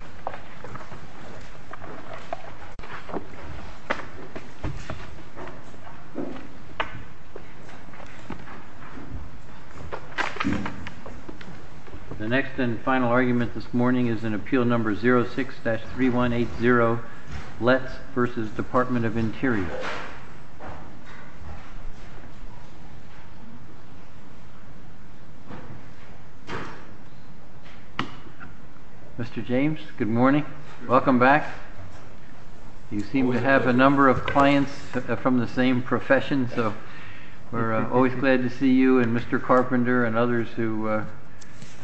The next and final argument this morning is in Appeal No. 06-3180, Letz v. Department of Interior. Mr. James, good morning. Welcome back. You seem to have a number of clients from the same profession, so we're always glad to see you and Mr. Carpenter and others who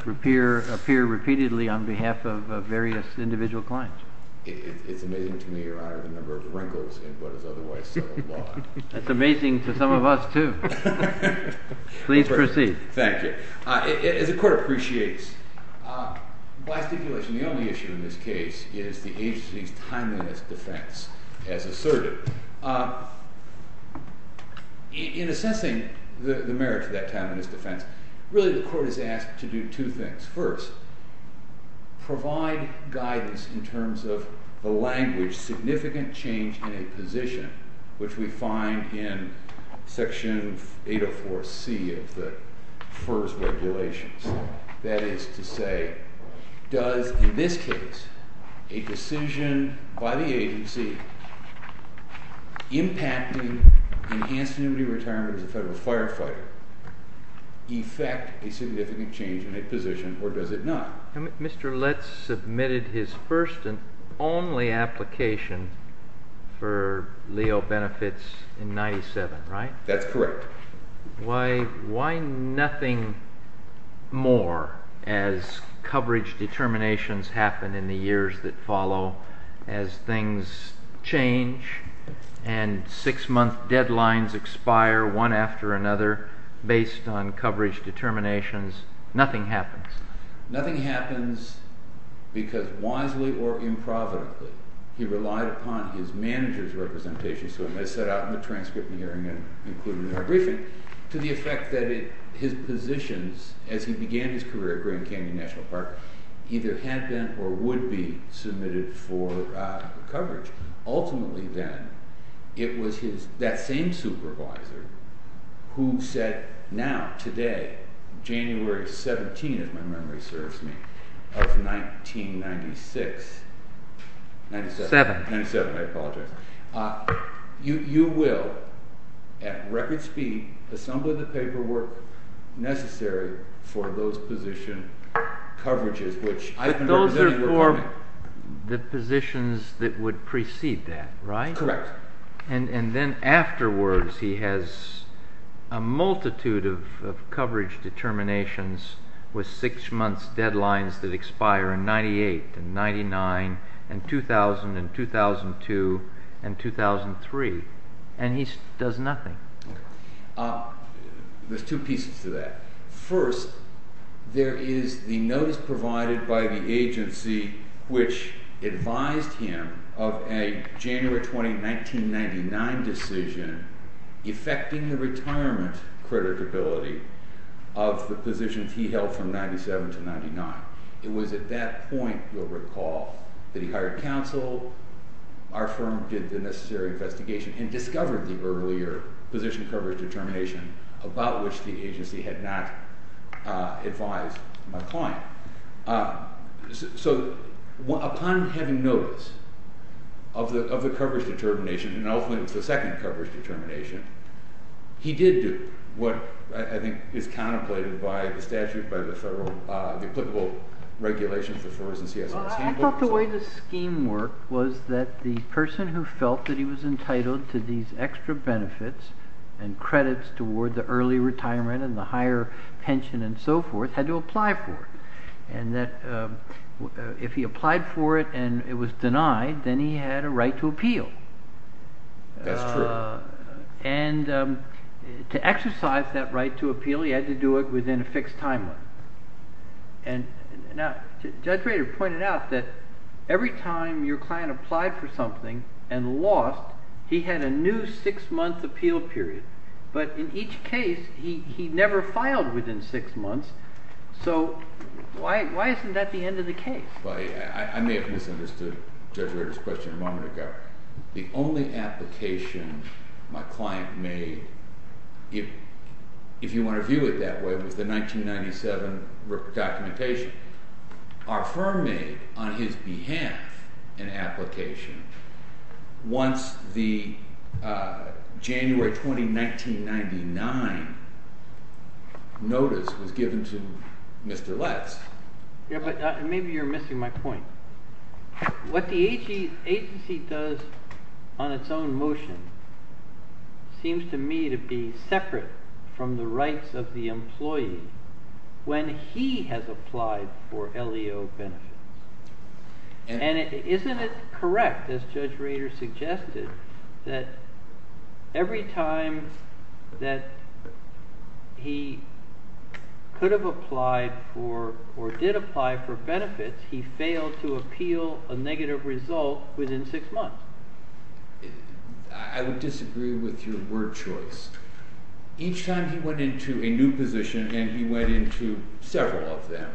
appear repeatedly on behalf of various individual clients. It's amazing to me the number of wrinkles in what is otherwise settled law. That's amazing to some of us, too. Please proceed. Thank you. As the Court appreciates, by stipulation the only issue in this case is the agency's timeliness defense as asserted. In assessing the merits of that timeliness defense, really the Court is asked to do two things. First, provide guidance in terms of the language, significant change in a position, which we find in Section 804C of the FERS regulations. That is to say, does in this case a decision by the agency impacting enhanced immunity retirement as a federal firefighter effect a significant change in a position, or does it not? Mr. Letz submitted his first and only application for Leo benefits in 97, right? That's correct. Why nothing more as coverage determinations happen in the years that follow as things change and six-month deadlines expire one after another based on nothing happens because wisely or improvidently he relied upon his manager's representation, so it was set out in the transcript and hearing and included in the briefing, to the effect that his positions as he began his career at Grand Canyon National Park either had been or would be submitted for coverage. Ultimately, then, it was that same supervisor who said now, today, January 17, if my memory serves me, of 1996, 97, I apologize, you will at record speed assemble the paperwork necessary for those position coverages, which I've been representing. Those are for the positions that would precede that, right? Correct. And then afterwards he has a multitude of coverage determinations with six-month deadlines that expire in 98 and 99 and 2000 and 2002 and 2003, and he does nothing. There's two pieces to that. First, there is the notice provided by the agency which advised him of a January 20, 1999 decision affecting the retirement creditability of the positions he held from 97 to 99. It was at that point, you'll recall, that he hired counsel, our firm did the necessary investigation, and discovered the earlier position coverage determination about which the agency had not advised my client. So upon having notice of the coverage determination, and ultimately it's second coverage determination, he did do what I think is contemplated by the statute, by the federal, the applicable regulations for CSRS. I thought the way the scheme worked was that the person who felt that he was entitled to these extra benefits and credits toward the early retirement and the higher pension and so forth had to apply for it, and that if he applied for it and it was denied, then he had a right to appeal. That's true. And to exercise that right to appeal, he had to do it within a fixed timeline, and now Judge Rader pointed out that every time your client applied for something and lost, he had a new six-month appeal period, but in each case he never filed within six months. So why isn't that the end of the case? I may have misunderstood Judge Rader's question a moment ago. The only application my client made, if you want to view it that way, was the 1997 documentation. Our firm made, on his behalf, an application once the January 20, 1999, notice was given to Mr. Letts. Yeah, but maybe you're missing my point. What the agency does on its own motion seems to me to be separate from the rights of the employee when he has applied for LEO benefits, and isn't it correct, as Judge Rader suggested, that every time that he could have applied for, or did apply for benefits, he failed to appeal a negative result within six months? I would disagree with your word choice. Each time he went into a new position, and he went into several of them,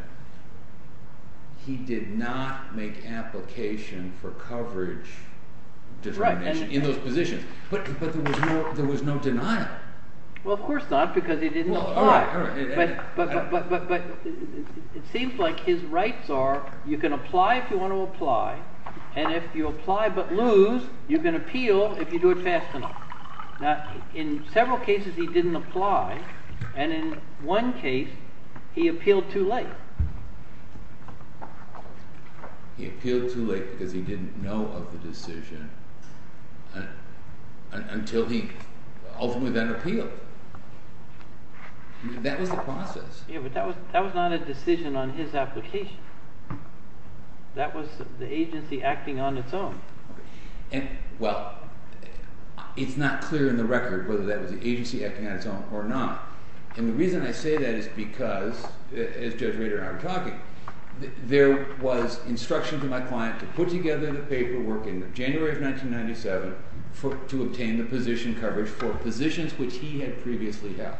he did not make application for coverage determination in those positions, but there was no denial. Well, of course not, because he didn't apply. But it seems like his rights are, you can apply if you want to apply, and if you apply but lose, you can appeal if you do it fast enough. Now, in several cases he didn't apply, and in one case he appealed too late. He appealed too late because he didn't know of the decision until he ultimately then appealed. That was the process. Yeah, but that was not a decision on his application. That was the agency acting on its own. Well, it's not clear in the record whether that was the agency acting on its own or not, and the reason I say that is because, as Judge Rader said, I'm talking, there was instruction to my client to put together the paperwork in January of 1997 to obtain the position coverage for positions which he had previously helped.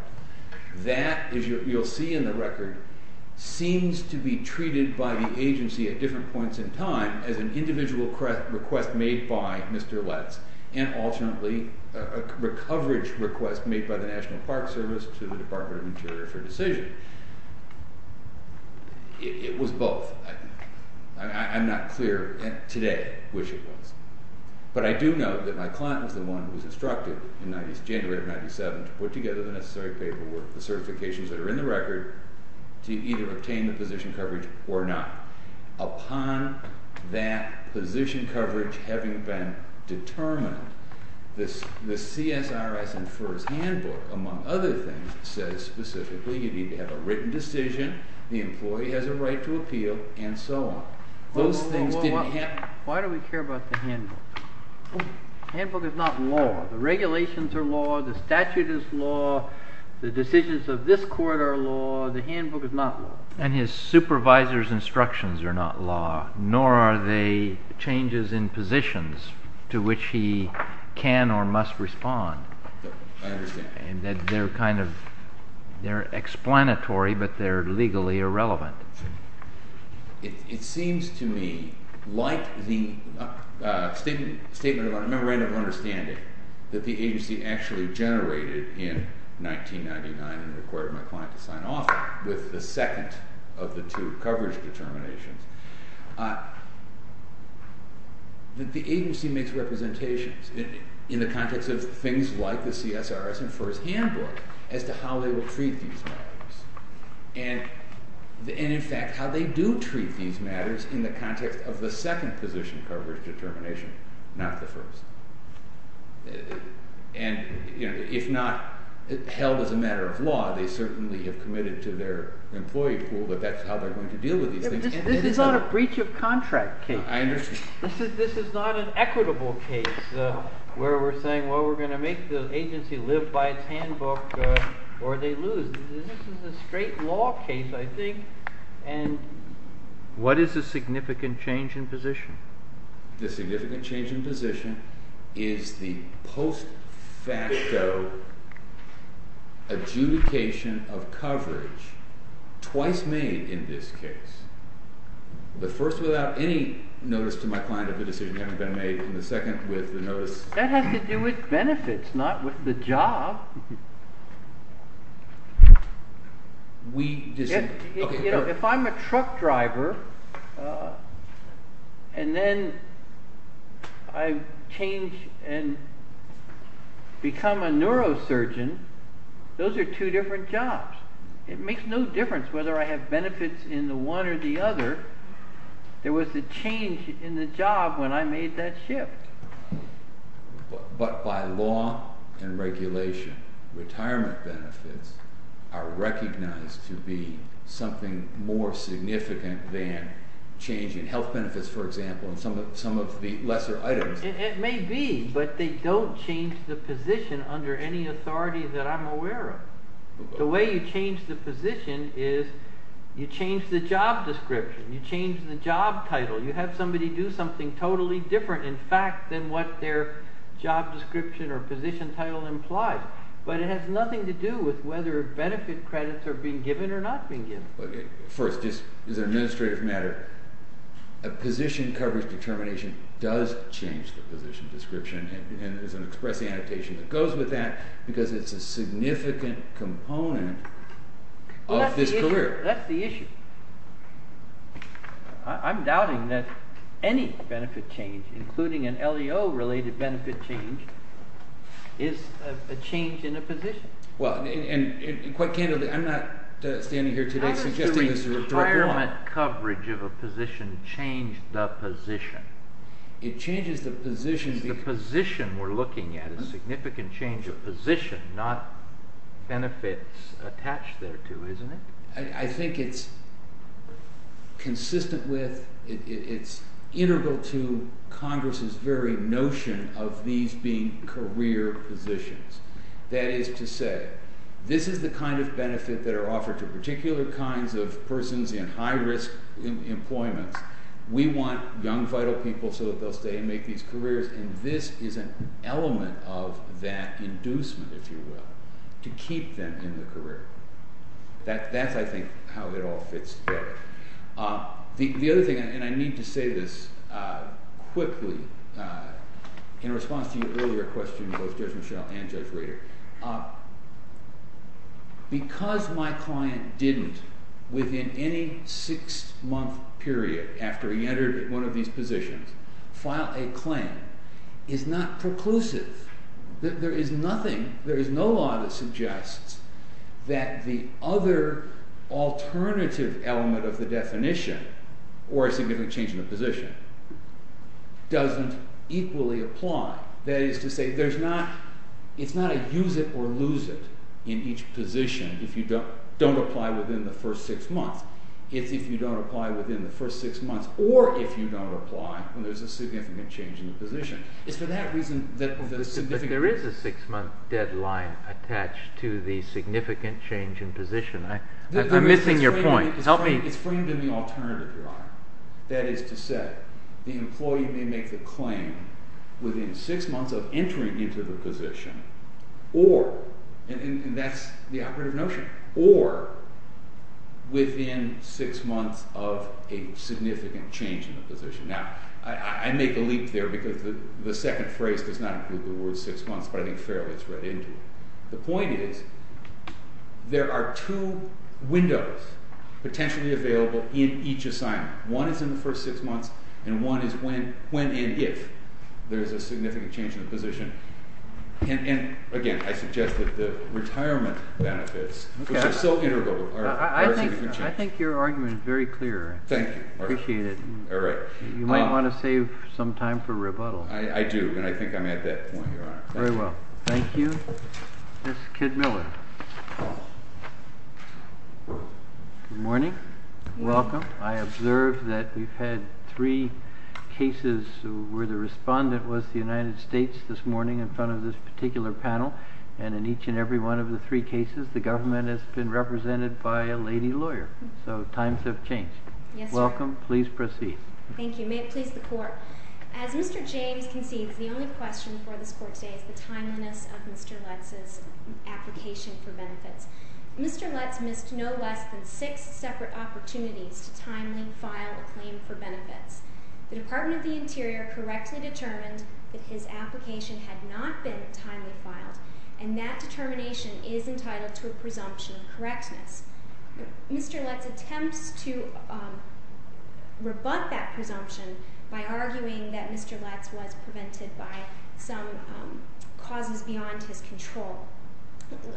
That, as you'll see in the record, seems to be treated by the agency at different points in time as an individual request made by Mr. Letts, and ultimately a coverage request made by the National Park Service to the Department of Interior for a decision. It was both. I'm not clear today which it was, but I do know that my client was the one who was instructed in January of 1997 to put together the necessary paperwork, the certifications that are in the record, to either obtain the position coverage or not. Upon that position coverage having been determined, this CSRS and FERS handbook, among other things, says specifically you need to have a written decision, the employee has a right to appeal, and so on. Those things didn't happen. Why do we care about the handbook? The handbook is not law. The regulations are law, the statute is law, the decisions of this court are law, the handbook is not law. And his supervisor's instructions are law, nor are they changes in positions to which he can or must respond. I understand. And that they're kind of, they're explanatory, but they're legally irrelevant. It seems to me, like the statement of a memorandum of understanding that the agency actually generated in 1999 and required my client to sign off with the second of the two coverage determinations. The agency makes representations in the context of things like the CSRS and FERS handbook as to how they will treat these matters. And in fact, how they do treat these matters in the context of the second position coverage determination, not the first. And if not held as a matter of law, they certainly have committed to their employee pool that that's how they're going to deal with these things. This is not a breach of contract case. I understand. This is not an equitable case where we're saying, well, we're going to make the agency live by its handbook or they lose. This is a straight law case, I think. And what is the significant change in position? The significant change in position is the post facto adjudication of coverage twice made in this case. The first without any notice to my client of the decision having been made, and the second with the notice... That has to do with benefits, not with the job. We just... If I'm a truck driver and then I change and become a neurosurgeon, those are two different jobs. It makes no difference whether I have benefits in the one or the other. There was a change in the job when I made that shift. But by law and regulation, retirement benefits are recognized to be something more significant than changing health benefits, for example, and some of the lesser items. It may be, but they don't change the position under any authority that I'm aware of. The way you change the position is you change the job description, you change the job title, you have somebody do something totally different, in fact, than what their job description or position title implies. But it has nothing to do with whether benefit credits are being given or not being given. Okay. First, just as an administrative matter, a position coverage determination does change the position description, and there's an expressing annotation that goes with that, because it's a significant component of this career. That's the issue. I'm doubting that any benefit change, including an LEO-related benefit change, is a change in a position. Well, and quite candidly, I'm not standing here today suggesting this is a rhetorical... How does the retirement coverage of a position change the position? It changes the position because... Not benefits attached thereto, isn't it? I think it's consistent with, it's integral to Congress's very notion of these being career positions. That is to say, this is the kind of benefit that are offered to particular kinds of persons in high-risk employment. We want young, vital people so that they'll stay and make these to keep them in the career. That's, I think, how it all fits together. The other thing, and I need to say this quickly in response to your earlier question, both Judge Michelle and Judge Rader, because my client didn't, within any six-month period after he entered one of these positions, file a claim is not preclusive. There is nothing, there is no law that suggests that the other alternative element of the definition, or a significant change in a position, doesn't equally apply. That is to say, there's not, it's not a use it or lose it in each position if you don't apply within the first six months. It's if you don't apply within the first six months, or if you don't apply when there's a significant change in the position. It's for that reason that there's significant... deadline attached to the significant change in position. I'm missing your point. Help me. It's framed in the alternative, Your Honor. That is to say, the employee may make the claim within six months of entering into the position, or, and that's the operative notion, or within six months of a significant change in the position. Now, I make a leap there because the second phrase does not include the word six months, but I think fairly it's read into it. The point is, there are two windows potentially available in each assignment. One is in the first six months, and one is when and if there's a significant change in the position. And again, I suggest that the retirement benefits, which are so integral... I think your argument is very clear. Thank you. Appreciate it. All right. You might want to save some time for rebuttal. I do, and I think I'm at that point, Your Honor. Very well. Thank you. Miss Kidd-Miller. Good morning. Welcome. I observed that we've had three cases where the respondent was the United States this morning in front of this particular panel, and in each and every one of the three cases, the government has been represented by a lady lawyer. So times have changed. Welcome. Please proceed. Thank you. May it please the court. As Mr. James concedes, the only question for this court today is the timeliness of Mr. Lutz's application for benefits. Mr. Lutz missed no less than six separate opportunities to timely file a claim for benefits. The Department of the Interior correctly determined that his application had not been timely filed, and that determination is entitled to a presumption of correctness. Mr. Lutz attempts to rebut that presumption by arguing that Mr. Lutz was prevented by some causes beyond his control.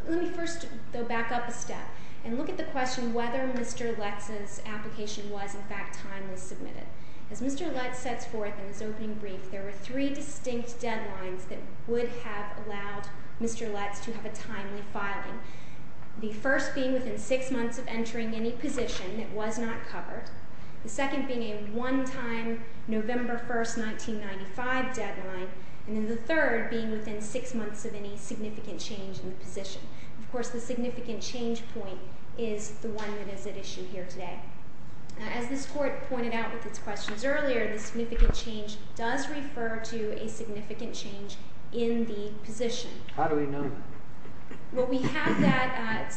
Let me first, though, back up a step and look at the question whether Mr. Lutz's application was, in fact, timely submitted. As Mr. Lutz sets forth in his opening brief, there were three distinct deadlines that would have allowed Mr. Lutz to have a timely filing, the first being within six months of entering any position that was not covered, the second being a one-time November 1st, 1995 deadline, and then the third being within six months of any significant change in the position. Of course, the significant change point is the one that is at issue here today. As this court pointed out with its questions earlier, the significant change does refer to a significant change in the position. How do we know? Well, we have that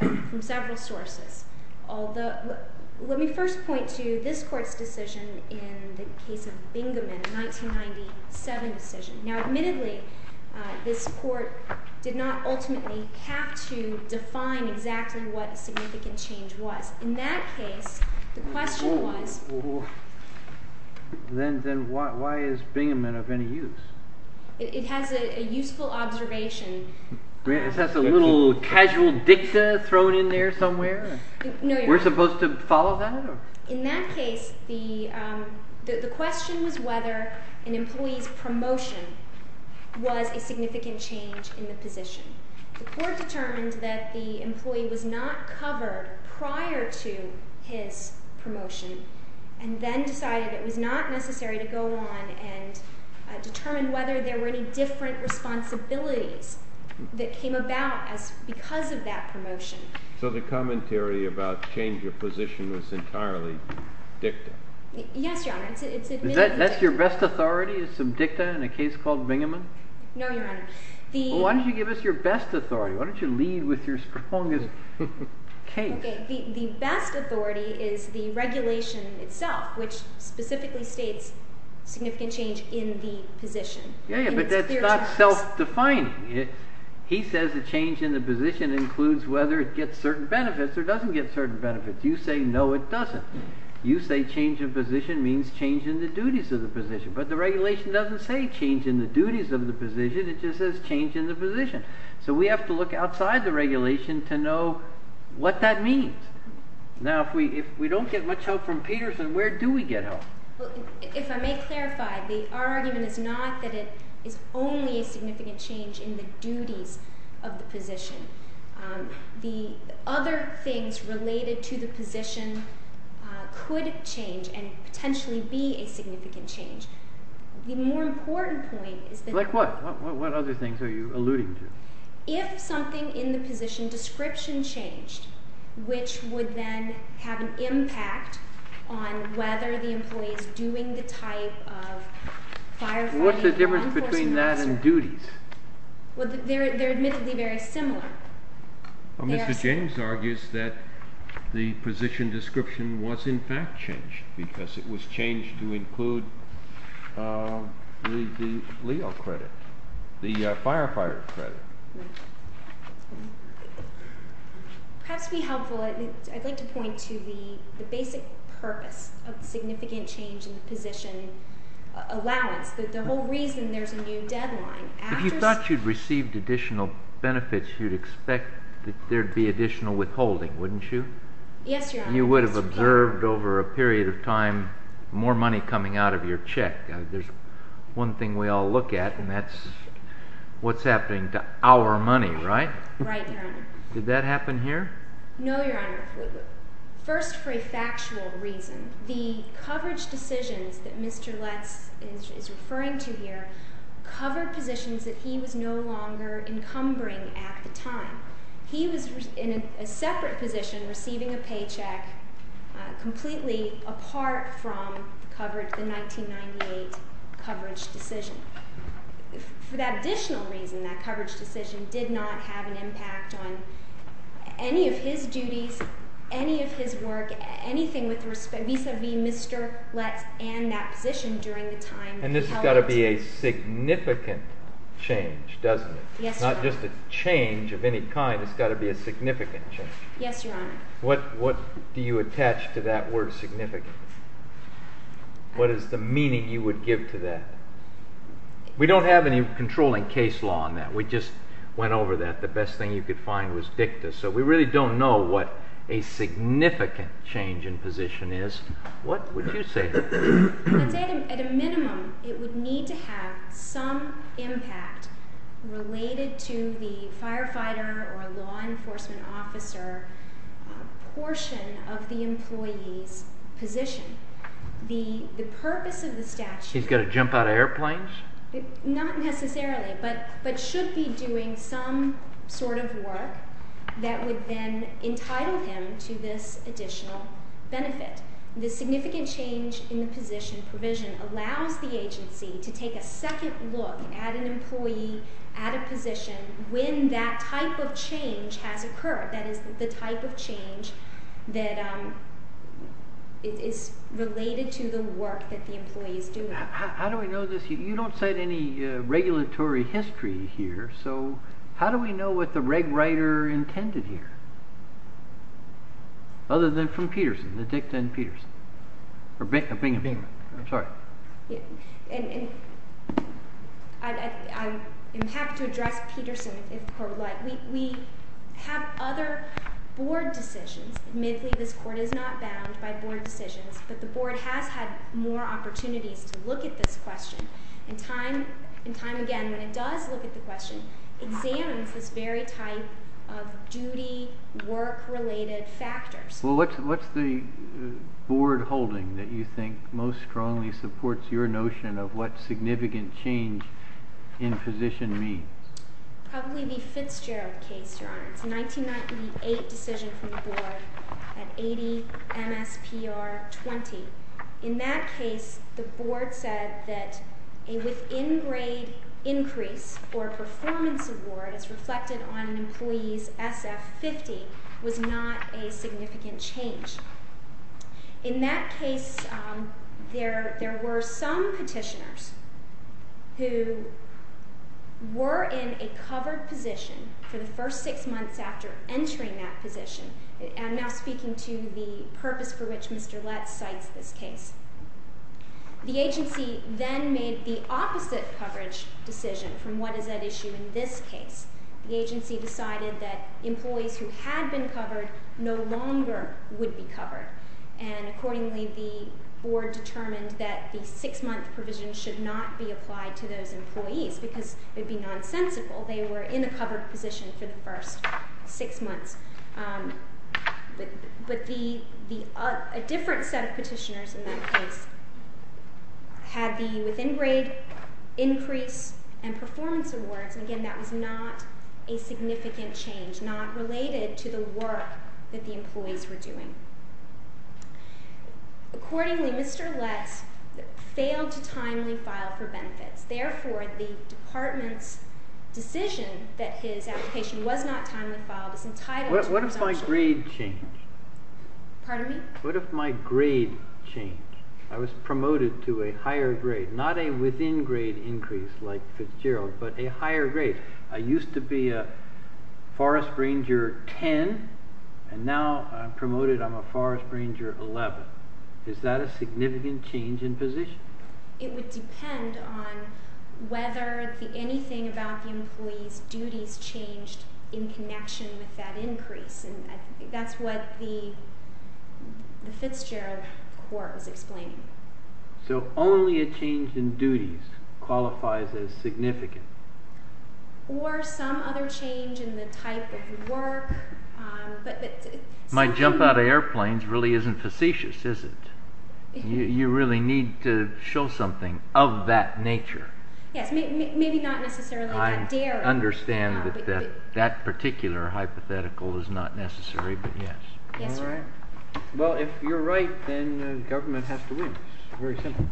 from several sources. Let me first point to this court's decision in the case of Bingaman, a 1997 decision. Now, admittedly, this court did not ultimately have to define exactly what the significant change was. In that case, the question was. Well, then why is Bingaman of any use? It has a useful observation. Is that a little casual dicta thrown in there somewhere? We're supposed to follow that? In that case, the question was whether an employee's promotion was a significant change in the position. The court determined that the employee was not covered prior to his promotion. Then decided it was not necessary to go on and determine whether there were any different responsibilities that came about because of that promotion. So the commentary about change of position was entirely dicta? Yes, Your Honor. That's your best authority is some dicta in a case called Bingaman? No, Your Honor. Why don't you give us your best authority? Why don't you specifically state significant change in the position? Yeah, but that's not self-defining. He says the change in the position includes whether it gets certain benefits or doesn't get certain benefits. You say no, it doesn't. You say change of position means change in the duties of the position. But the regulation doesn't say change in the duties of the position. It just says change in the position. So we have to look outside the regulation to know what that means. Now, if we don't get much help from Peterson, where do we get help? If I may clarify, the argument is not that it is only a significant change in the duties of the position. The other things related to the position could change and potentially be a significant change. The more important point is that... Like what? What other things are you alluding to? If something in the position description changed, which would then have an impact on whether the employee is doing the type of firefighting... What's the difference between that and duties? Well, they're admittedly very similar. Mr. James argues that the position description was in fact changed because it was changed to include the LEO credit, the firefighter credit. Perhaps to be helpful, I'd like to point to the basic purpose of the significant change in the position allowance, that the whole reason there's a new deadline... If you thought you'd received additional benefits, you'd expect that there'd be additional withholding, wouldn't you? Yes, more money coming out of your check. There's one thing we all look at, and that's what's happening to our money, right? Right, Your Honor. Did that happen here? No, Your Honor. First, for a factual reason, the coverage decisions that Mr. Letts is referring to here cover positions that he was no longer encumbering at the time. He was in a separate position receiving a paycheck completely apart from the 1998 coverage decision. For that additional reason, that coverage decision did not have an impact on any of his duties, any of his work, anything vis-a-vis Mr. Letts and that position during the time... And this has got to be a significant change, doesn't it? Yes, Your Honor. Not just a change of any kind. It's got to be significant change. Yes, Your Honor. What do you attach to that word significant? What is the meaning you would give to that? We don't have any controlling case law on that. We just went over that. The best thing you could find was dicta, so we really don't know what a significant change in position is. What would you say? I'd say at a minimum, it would need to have some impact related to the firefighter or law enforcement officer portion of the employee's position. The purpose of the statute... He's got to jump out of airplanes? Not necessarily, but should be doing some sort of work that would then entitle him to this additional benefit. The significant change in the position provision allows the agency to take a second look at an employee at a position when that type of change has occurred. That is the type of change that is related to the work that the employee is doing. How do we know this? You don't set any regulatory history here, so how do we know what the reg writer intended here? Other than from Peterson, the dicta and Peterson. I'm sorry. I'm happy to address Peterson if her like. We have other board decisions. Admittedly, this court is not bound by board decisions, but the board has had more opportunities to look at this question and time again, when it does look at the question, examines this very type of duty, work related factors. What's the board holding that you think most strongly supports your notion of what significant change in position means? Probably the Fitzgerald case, your honor. It's a 1998 decision from the board at 80 MSPR 20. In that case, the board said that a within grade increase or performance award as reflected on an employee's SF 50 was not a significant change. In that case, there were some petitioners who were in a covered position for the first six months after entering that speaking to the purpose for which Mr. Letts cites this case. The agency then made the opposite coverage decision from what is at issue in this case. The agency decided that employees who had been covered no longer would be covered, and accordingly, the board determined that the six month provision should not be applied to those employees because it would be nonsensical. They were in a covered position for the first six months. But a different set of petitioners in that case had the within grade increase and performance awards, and again, that was not a significant change, not related to the work that the employees were doing. Accordingly, Mr. Letts failed to timely file for benefits. Therefore, the department's decision that his application was not timely filed is entitled. What if my grade changed? Pardon me? What if my grade changed? I was promoted to a higher grade, not a within grade increase like Fitzgerald, but a higher grade. I used to be a forest ranger 10, and now I'm a forest ranger 11. Is that a significant change in position? It would depend on whether anything about the employee's duties changed in connection with that increase, and that's what the Fitzgerald court was explaining. So only a change in duties qualifies as significant? Or some other change in the type of work. My jump out of airplanes really isn't facetious, is it? You really need to show something of that nature. Yes, maybe not necessarily. I understand that that particular hypothetical is not necessary, but yes. All right. Well, if you're right, then the government has to win. It's very simple.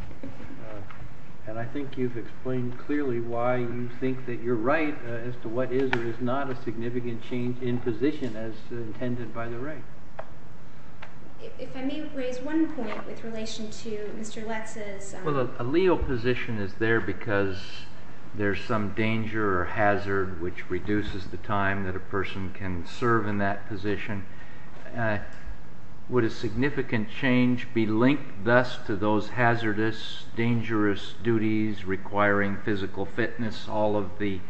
And I think you've explained clearly why you think that you're right as to what is or is not a significant change in position as intended by the right. If I may raise one point with relation to Mr. Lex's... Well, a Leo position is there because there's some danger or hazard which reduces the time that a person can serve in that position. Would a significant change be linked thus to those hazardous, dangerous duties requiring physical fitness, all of the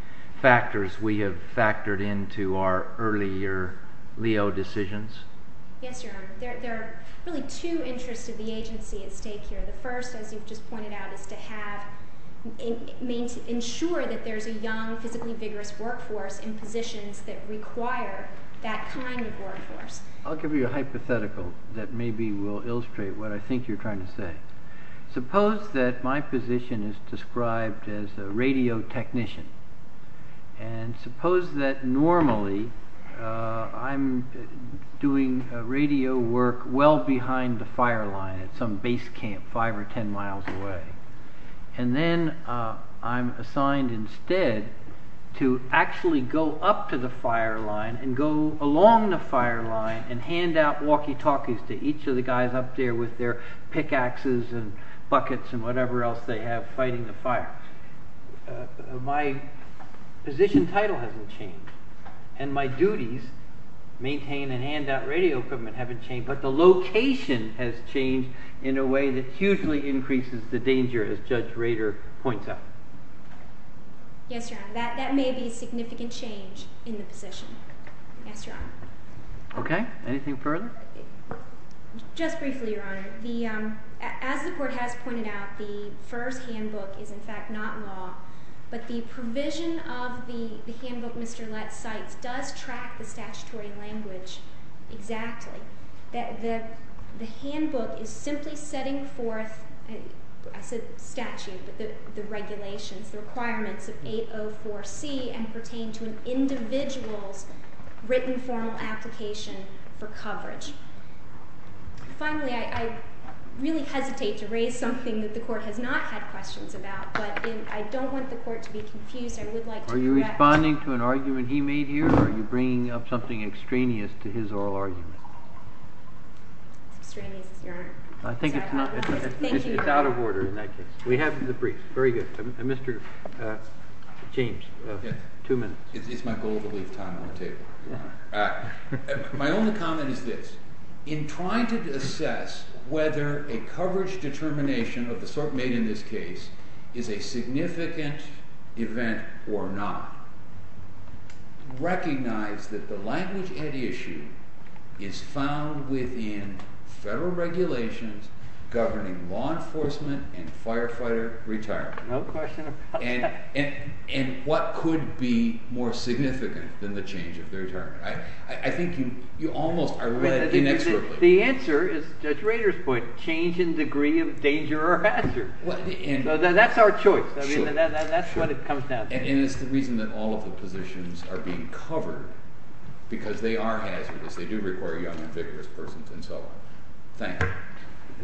factors we have factored into our earlier Leo decisions? Yes, Your Honor. There are really two interests of the agency at stake here. The first, as you've just pointed out, is to ensure that there's a young, physically vigorous workforce in positions that require that kind of workforce. I'll give you a hypothetical that maybe will illustrate what I think you're trying to say. Suppose that my position is described as a radio technician. And suppose that normally I'm doing radio work well behind the fire line at some base camp, five or ten miles away. And then I'm assigned instead to actually go up to the fire line and go along the fire line and hand out walkie-talkies to each of the guys up there with their pickaxes and buckets and whatever else they have fighting the fire. My position title hasn't changed and my duties maintain and hand out radio equipment haven't changed, but the location has changed in a way that hugely increases the danger, as Judge Rader points out. Yes, Your Honor. That may be a significant change in the position. Yes, Your Honor. Okay, anything further? Just briefly, Your Honor. As the Court has pointed out, the first handbook is in fact not law, but the provision of the handbook Mr. Lett cites does track the statutory requirements of 804C and pertain to an individual's written formal application for coverage. Finally, I really hesitate to raise something that the Court has not had questions about, but I don't want the Court to be confused. Are you responding to an argument he made here or are you bringing up something extraneous to his oral argument? Extraneous, Your Honor. I think it's out of order in that case. We have the briefs. Very good. Mr. James, two minutes. It's my goal to leave time on the table. My only comment is this. In trying to assess whether a coverage determination of the sort made in this case is a significant event or not, recognize that the language at issue is found within federal regulations governing law enforcement and firefighter retirement. No question about that. And what could be more significant than the change of the retirement? I think you almost are reading inexorably. The answer is Judge Rader's point, change in degree of danger or hazard. That's our choice. That's what it comes down to. And it's the reason that all of the positions are being covered, because they are hazardous. They do require young and vigorous persons and so on. Thank you.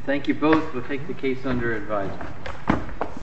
Thank you both. We'll take the case under advisement.